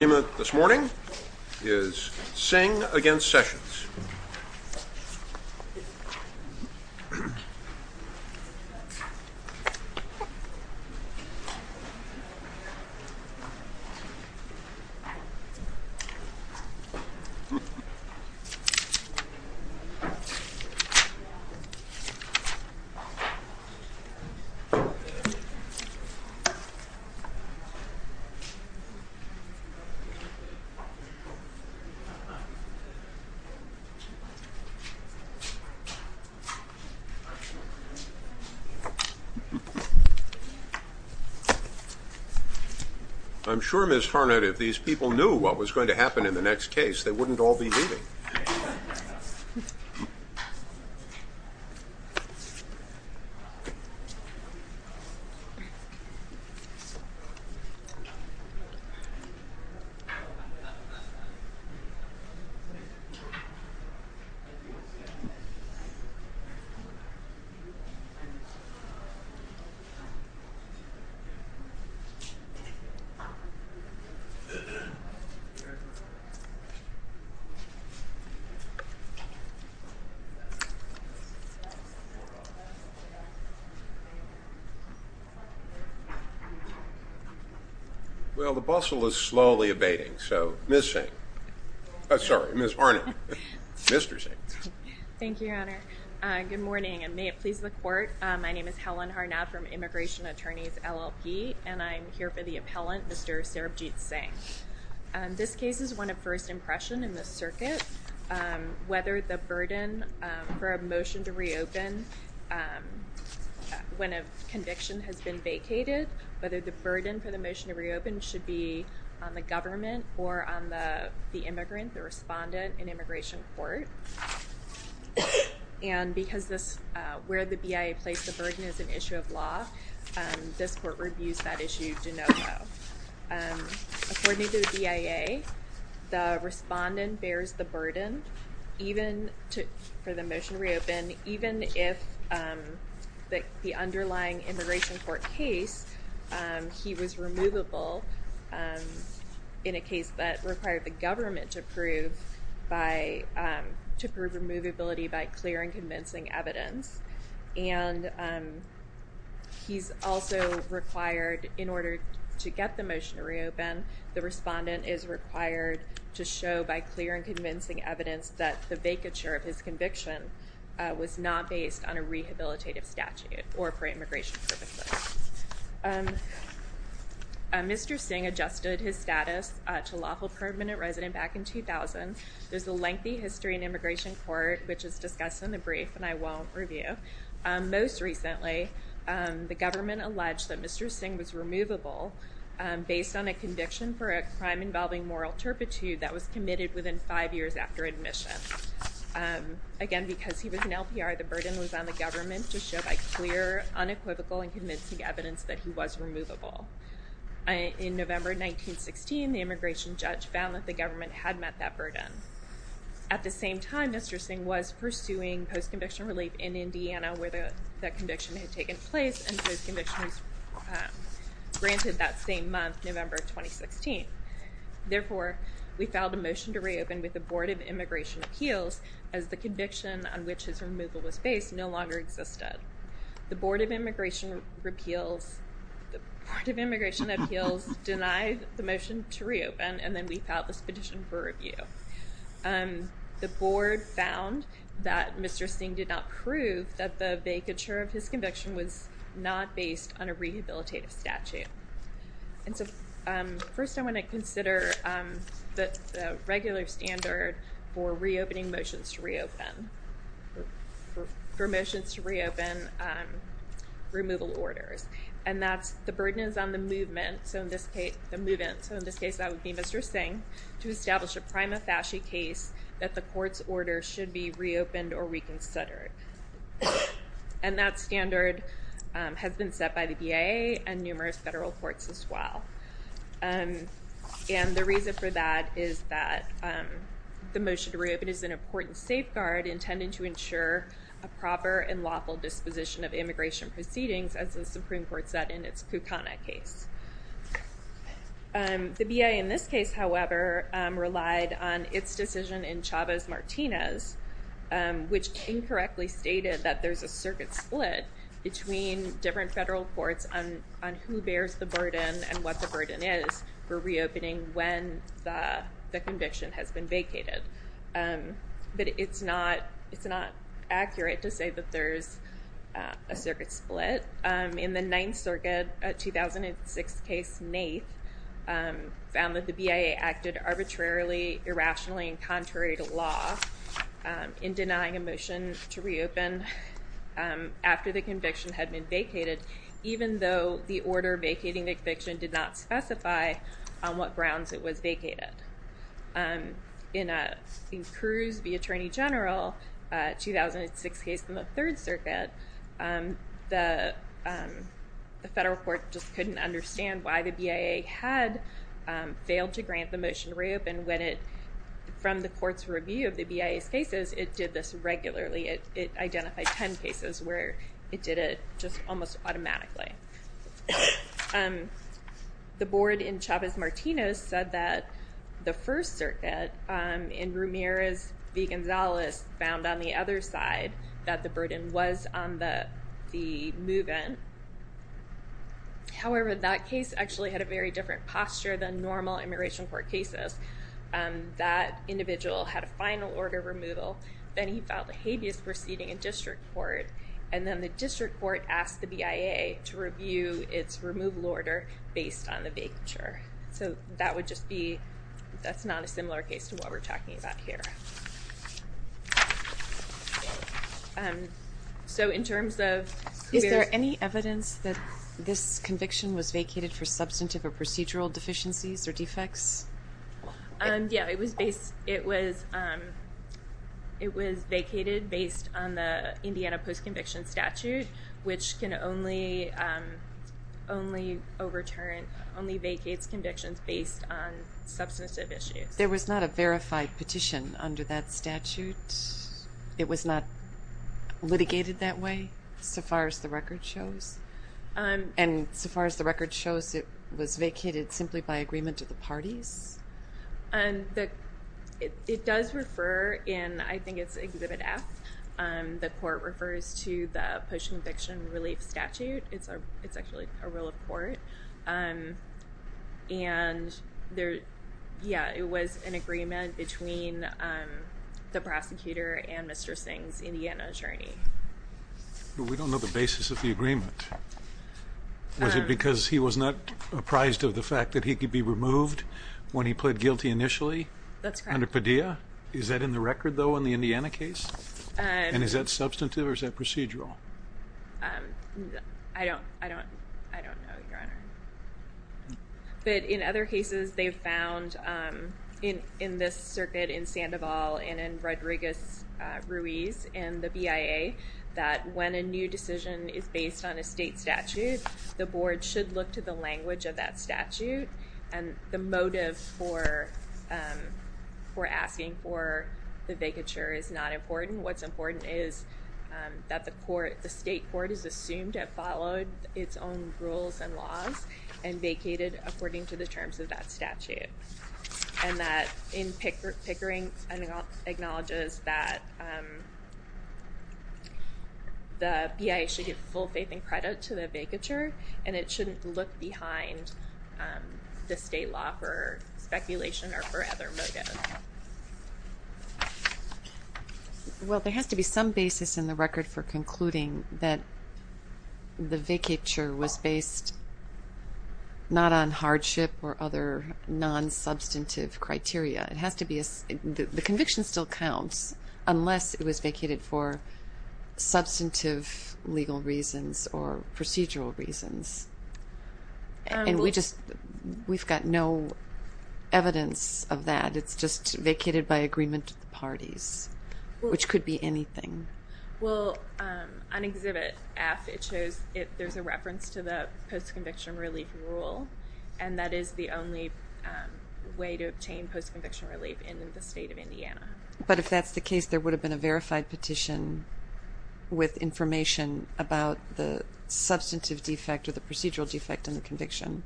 This morning is Singh against Sessions. I'm sure, Ms. Harnett, if these people knew what was going to happen in the next case, they wouldn't all be leaving. Well, the bustle is slowly abating. So, Ms. Singh. Sorry, Ms. Harnett. Mr. Singh. Thank you, Your Honor. Good morning, and may it please the Court. My name is Helen Harnett from Immigration Attorneys, LLP, and I'm here for the appellant, Mr. Sarabjit Singh. This case is one of first impression in the circuit. Whether the burden for a motion to reopen when a conviction has been vacated, whether the burden for the motion to reopen should be on the government or on the immigrant, the respondent in immigration court. And because where the BIA placed the burden is an issue of law, this court reviews that issue de novo. According to the BIA, the respondent bears the burden for the motion to reopen, even if the underlying immigration court case, he was removable in a case that required the government to prove removability by clear and convincing evidence. And he's also required, in order to get the motion to reopen, the respondent is required to show by clear and convincing evidence that the vacature of his conviction was not based on a rehabilitative statute or for immigration purposes. Mr. Singh adjusted his status to lawful permanent resident back in 2000. There's a lengthy history in immigration court, which is discussed in the brief, and I won't review. Most recently, the government alleged that Mr. Singh was removable based on a conviction for a crime involving moral turpitude that was committed within five years after admission. Again, because he was an LPR, the burden was on the government to show by clear, unequivocal, and convincing evidence that he was removable. In November 1916, the immigration judge found that the government had met that burden. At the same time, Mr. Singh was pursuing post-conviction relief in Indiana, where that conviction had taken place, and post-conviction was granted that same month, November 2016. Therefore, we filed a motion to reopen with the Board of Immigration Appeals, as the conviction on which his removal was based no longer existed. The Board of Immigration Appeals denied the motion to reopen, and then we filed this petition for review. The Board found that Mr. Singh did not prove that the vacature of his conviction was not based on a rehabilitative statute. First, I want to consider the regular standard for reopening motions to reopen, for motions to reopen removal orders, and that's the burden is on the movement, so in this case that would be Mr. Singh, to establish a prima facie case that the court's order should be reopened or reconsidered. And that standard has been set by the BIA and numerous federal courts as well. And the reason for that is that the motion to reopen is an important safeguard intended to ensure a proper and lawful disposition of immigration proceedings, as the Supreme Court said in its Kucana case. The BIA in this case, however, relied on its decision in Chavez-Martinez, which incorrectly stated that there's a circuit split between different federal courts on who bears the burden and what the burden is for reopening when the conviction has been vacated. But it's not accurate to say that there's a circuit split. In the Ninth Circuit, a 2006 case, Nath, found that the BIA acted arbitrarily, irrationally, and contrary to law in denying a motion to reopen after the conviction had been vacated, even though the order vacating the conviction did not specify on what grounds it was vacated. In Cruz v. Attorney General, a 2006 case from the Third Circuit, the federal court just couldn't understand why the BIA had failed to grant the motion to reopen when it, from the court's review of the BIA's cases, it did this regularly. It identified 10 cases where it did it just almost automatically. The board in Chavez-Martinez said that the First Circuit, in Ramirez v. Gonzalez, found on the other side that the burden was on the move-in. However, that case actually had a very different posture than normal immigration court cases. That individual had a final order of removal. Then he filed a habeas proceeding in district court, and then the district court asked the BIA to review its removal order based on the vacature. That's not a similar case to what we're talking about here. Is there any evidence that this conviction was vacated for substantive or procedural deficiencies or defects? It was vacated based on the Indiana post-conviction statute, which only vacates convictions based on substantive issues. There was not a verified petition under that statute? It was not litigated that way, so far as the record shows? And so far as the record shows, it was vacated simply by agreement of the parties? It does refer in, I think it's Exhibit F. The court refers to the post-conviction relief statute. It's actually a rule of court. And, yeah, it was an agreement between the prosecutor and Mr. Singh's Indiana attorney. We don't know the basis of the agreement. Was it because he was not apprised of the fact that he could be removed when he pled guilty initially? That's correct. Under Padilla, is that in the record, though, in the Indiana case? And is that substantive or is that procedural? I don't know, Your Honor. But in other cases, they've found in this circuit in Sandoval and in Rodriguez-Ruiz and the BIA that when a new decision is based on a state statute, the board should look to the language of that statute and the motive for asking for the vacature is not important. What's important is that the state court is assumed to have followed its own rules and laws and vacated according to the terms of that statute. And that Pickering acknowledges that the BIA should give full faith and credit to the vacature and it shouldn't look behind the state law for speculation or for other motives. Well, there has to be some basis in the record for concluding that the vacature was based not on hardship or other non-substantive criteria. The conviction still counts unless it was vacated for substantive legal reasons or procedural reasons. And we've got no evidence of that. It's just vacated by agreement of the parties, which could be anything. Well, on Exhibit F, there's a reference to the post-conviction relief rule, and that is the only way to obtain post-conviction relief in the state of Indiana. But if that's the case, there would have been a verified petition with information about the substantive defect or the procedural defect in the conviction,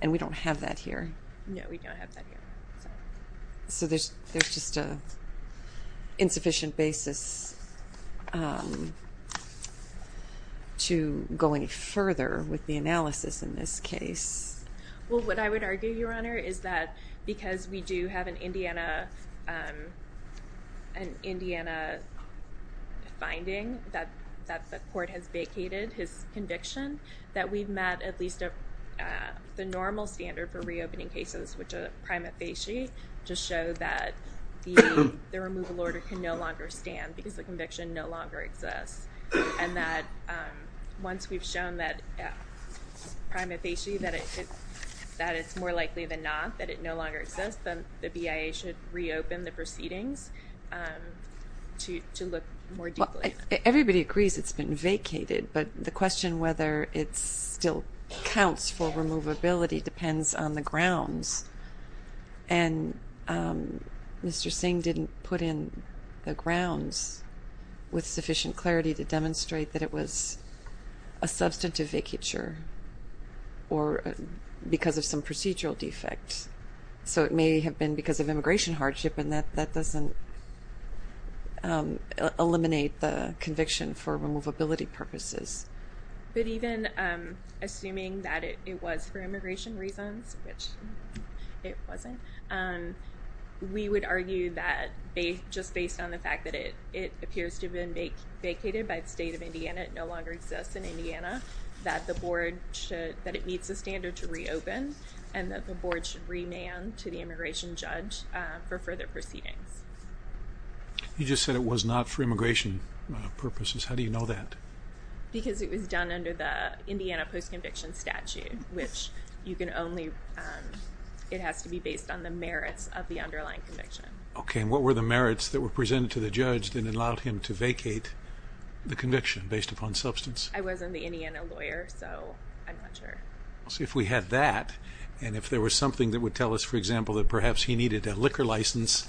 and we don't have that here. No, we don't have that here. So there's just an insufficient basis to go any further with the analysis in this case. Well, what I would argue, Your Honor, is that because we do have an Indiana finding that the court has vacated his conviction, that we've met at least the normal standard for reopening cases, which are prima facie, to show that the removal order can no longer stand because the conviction no longer exists. And that once we've shown that, prima facie, that it's more likely than not that it no longer exists, then the BIA should reopen the proceedings to look more deeply at it. Everybody agrees it's been vacated, but the question whether it still counts for removability depends on the grounds. And Mr. Singh didn't put in the grounds with sufficient clarity to demonstrate that it was a substantive vacature or because of some procedural defect. So it may have been because of immigration hardship, and that doesn't eliminate the conviction for removability purposes. But even assuming that it was for immigration reasons, which it wasn't, we would argue that just based on the fact that it appears to have been vacated by the state of Indiana, it no longer exists in Indiana, that it meets the standard to reopen and that the board should remand to the immigration judge for further proceedings. You just said it was not for immigration purposes. How do you know that? Because it was done under the Indiana post-conviction statute, which you can only—it has to be based on the merits of the underlying conviction. Okay, and what were the merits that were presented to the judge that allowed him to vacate the conviction based upon substance? I wasn't the Indiana lawyer, so I'm not sure. See, if we had that, and if there was something that would tell us, for example, that perhaps he needed a liquor license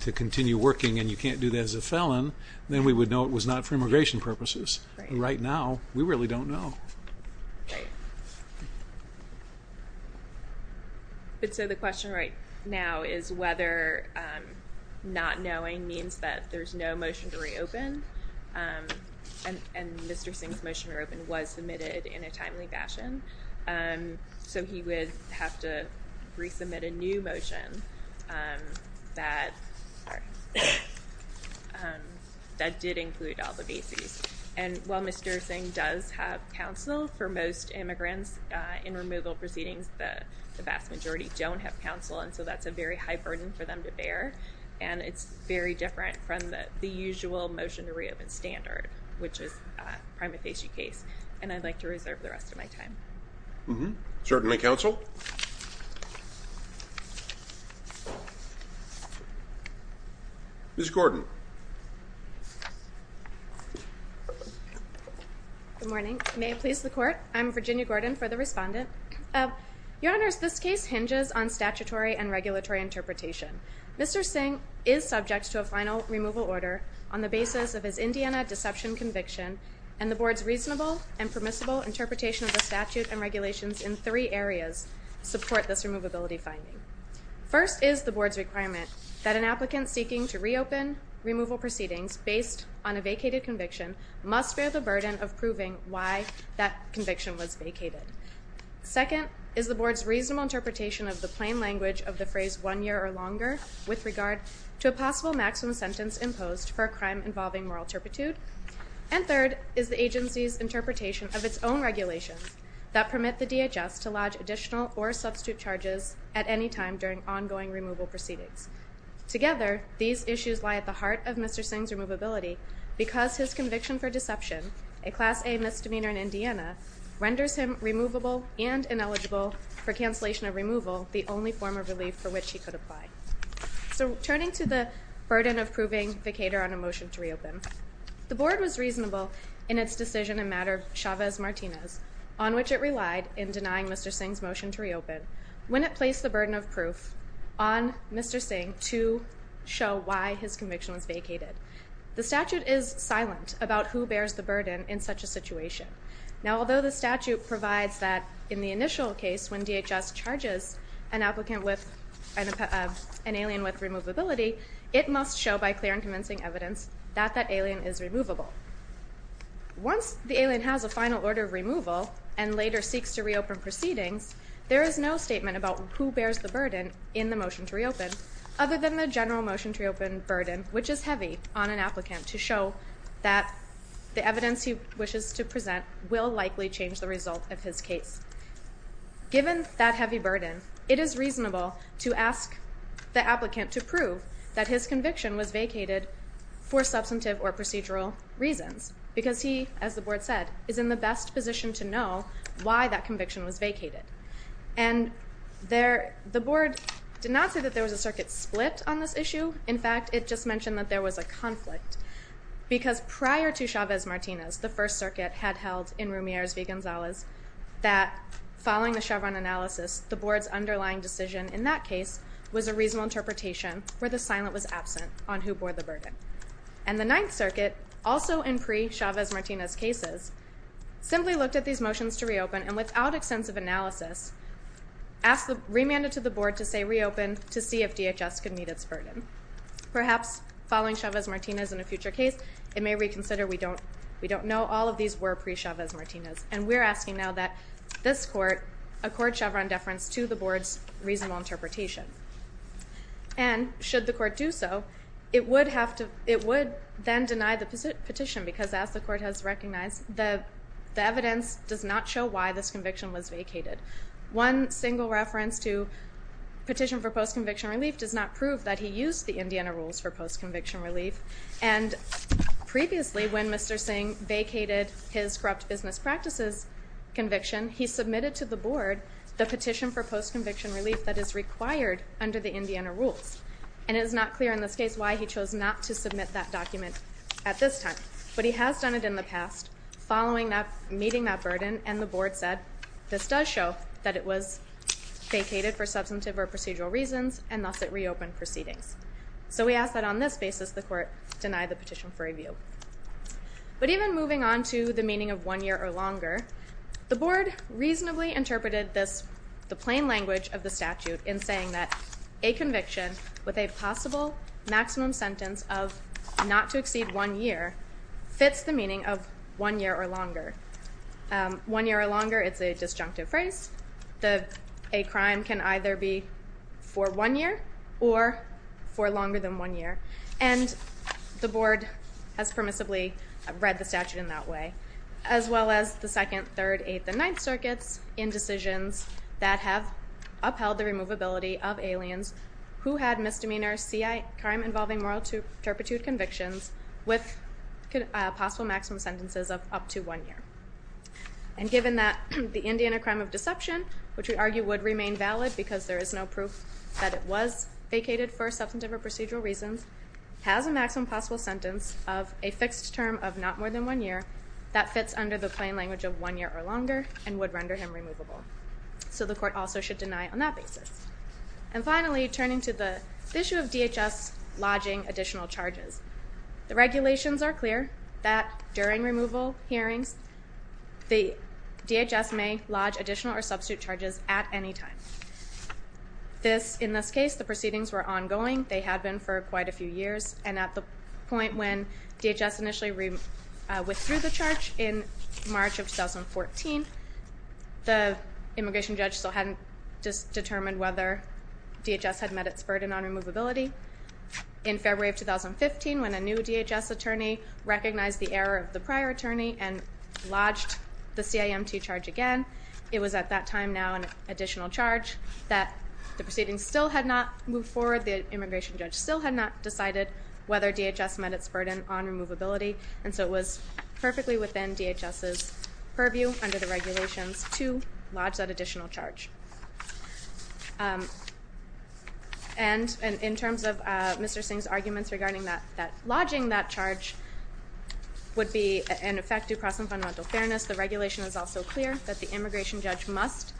to continue working and you can't do that as a felon, then we would know it was not for immigration purposes. Right now, we really don't know. But so the question right now is whether not knowing means that there's no motion to reopen, and Mr. Singh's motion to reopen was submitted in a timely fashion, so he would have to resubmit a new motion that did include all the bases. And while Mr. Singh does have counsel for most immigrants in removal proceedings, the vast majority don't have counsel, and so that's a very high burden for them to bear, and it's very different from the usual motion to reopen standard, which is a prima facie case, and I'd like to reserve the rest of my time. Certainly, counsel. Ms. Gordon. Good morning. May it please the Court? I'm Virginia Gordon for the Respondent. Your Honors, this case hinges on statutory and regulatory interpretation. Mr. Singh is subject to a final removal order on the basis of his Indiana deception conviction, and the Board's reasonable and permissible interpretation of the statute and regulations in three areas support this removability finding. First is the Board's requirement that an applicant seeking to reopen removal proceedings based on a vacated conviction must bear the burden of proving why that conviction was vacated. Second is the Board's reasonable interpretation of the plain language of the phrase one year or longer with regard to a possible maximum sentence imposed for a crime involving moral turpitude. And third is the agency's interpretation of its own regulations that permit the DHS to lodge additional or substitute charges at any time during ongoing removal proceedings. Together, these issues lie at the heart of Mr. Singh's removability because his conviction for deception, a Class A misdemeanor in Indiana, renders him removable and ineligible for cancellation of removal, the only form of relief for which he could apply. So turning to the burden of proving vacator on a motion to reopen, the Board was reasonable in its decision in matter of Chavez-Martinez, on which it relied in denying Mr. Singh's motion to reopen, when it placed the burden of proof on Mr. Singh to show why his conviction was vacated. The statute is silent about who bears the burden in such a situation. Now, although the statute provides that in the initial case when DHS charges an applicant with, an alien with removability, it must show by clear and convincing evidence that that alien is removable. Once the alien has a final order of removal and later seeks to reopen proceedings, there is no statement about who bears the burden in the motion to reopen, other than the general motion to reopen burden, which is heavy on an applicant, to show that the evidence he wishes to present will likely change the result of his case. Given that heavy burden, it is reasonable to ask the applicant to prove that his conviction was vacated for substantive or procedural reasons because he, as the Board said, is in the best position to know why that conviction was vacated. And the Board did not say that there was a circuit split on this issue. In fact, it just mentioned that there was a conflict because prior to Chavez-Martinez, the First Circuit had held in Rumieres v. Gonzalez that following the Chevron analysis, the Board's underlying decision in that case was a reasonable interpretation where the silent was absent on who bore the burden. And the Ninth Circuit, also in pre-Chavez-Martinez cases, simply looked at these motions to reopen and without extensive analysis, remanded to the Board to say reopen to see if DHS could meet its burden. Perhaps following Chavez-Martinez in a future case, it may reconsider we don't know. All of these were pre-Chavez-Martinez. And we're asking now that this Court accord Chevron deference to the Board's reasonable interpretation. And should the Court do so, it would then deny the petition because, as the Court has recognized, the evidence does not show why this conviction was vacated. One single reference to petition for post-conviction relief does not prove that he used the Indiana rules for post-conviction relief. And previously, when Mr. Singh vacated his corrupt business practices conviction, he submitted to the Board the petition for post-conviction relief that is required under the Indiana rules. And it is not clear in this case why he chose not to submit that document at this time. But he has done it in the past, following meeting that burden, and the Board said, this does show that it was vacated for substantive or procedural reasons, and thus it reopened proceedings. So we ask that on this basis the Court deny the petition for review. But even moving on to the meaning of one year or longer, the Board reasonably interpreted the plain language of the statute in saying that a conviction with a possible maximum sentence of not to exceed one year fits the meaning of one year or longer. One year or longer is a disjunctive phrase. A crime can either be for one year or for longer than one year. And the Board has permissibly read the statute in that way, as well as the second, third, eighth, and ninth circuits in decisions that have upheld the removability of aliens who had misdemeanor C.I. crime involving moral turpitude convictions with possible maximum sentences of up to one year. And given that the Indiana crime of deception, which we argue would remain valid because there is no proof that it was vacated for substantive or procedural reasons, has a maximum possible sentence of a fixed term of not more than one year, that fits under the plain language of one year or longer and would render him removable. So the Court also should deny on that basis. And finally, turning to the issue of DHS lodging additional charges, the regulations are clear that during removal hearings the DHS may lodge additional or substitute charges at any time. In this case, the proceedings were ongoing. They had been for quite a few years. And at the point when DHS initially withdrew the charge in March of 2014, the immigration judge still hadn't determined whether DHS had met its burden on removability. In February of 2015, when a new DHS attorney recognized the error of the prior attorney and lodged the C.I.M.T. charge again, it was at that time now an additional charge that the proceedings still had not moved forward. The immigration judge still had not decided whether DHS met its burden on removability. And so it was perfectly within DHS's purview under the regulations to lodge that additional charge. And in terms of Mr. Singh's arguments regarding that lodging that charge would be an effective process of fundamental fairness, the regulation is also clear that the immigration judge must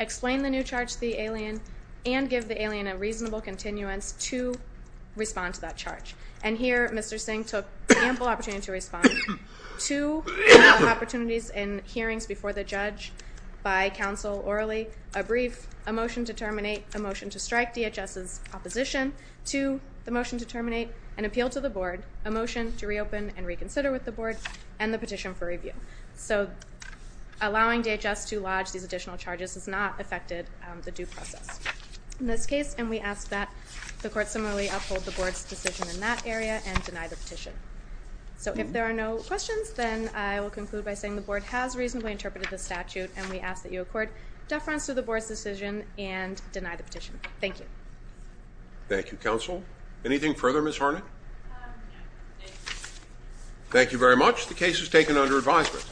explain the new charge to the alien and give the alien a reasonable continuance to respond to that charge. And here Mr. Singh took ample opportunity to respond to opportunities in hearings before the judge by counsel orally, a brief, a motion to terminate, a motion to strike DHS's opposition to the motion to terminate, an appeal to the board, a motion to reopen and reconsider with the board, and the petition for review. So allowing DHS to lodge these additional charges has not affected the due process in this case, and we ask that the court similarly uphold the board's decision in that area and deny the petition. So if there are no questions, then I will conclude by saying the board has reasonably interpreted the statute, and we ask that you accord deference to the board's decision and deny the petition. Thank you. Thank you, counsel. Anything further, Ms. Harnett? Thank you very much. The case is taken under advisement.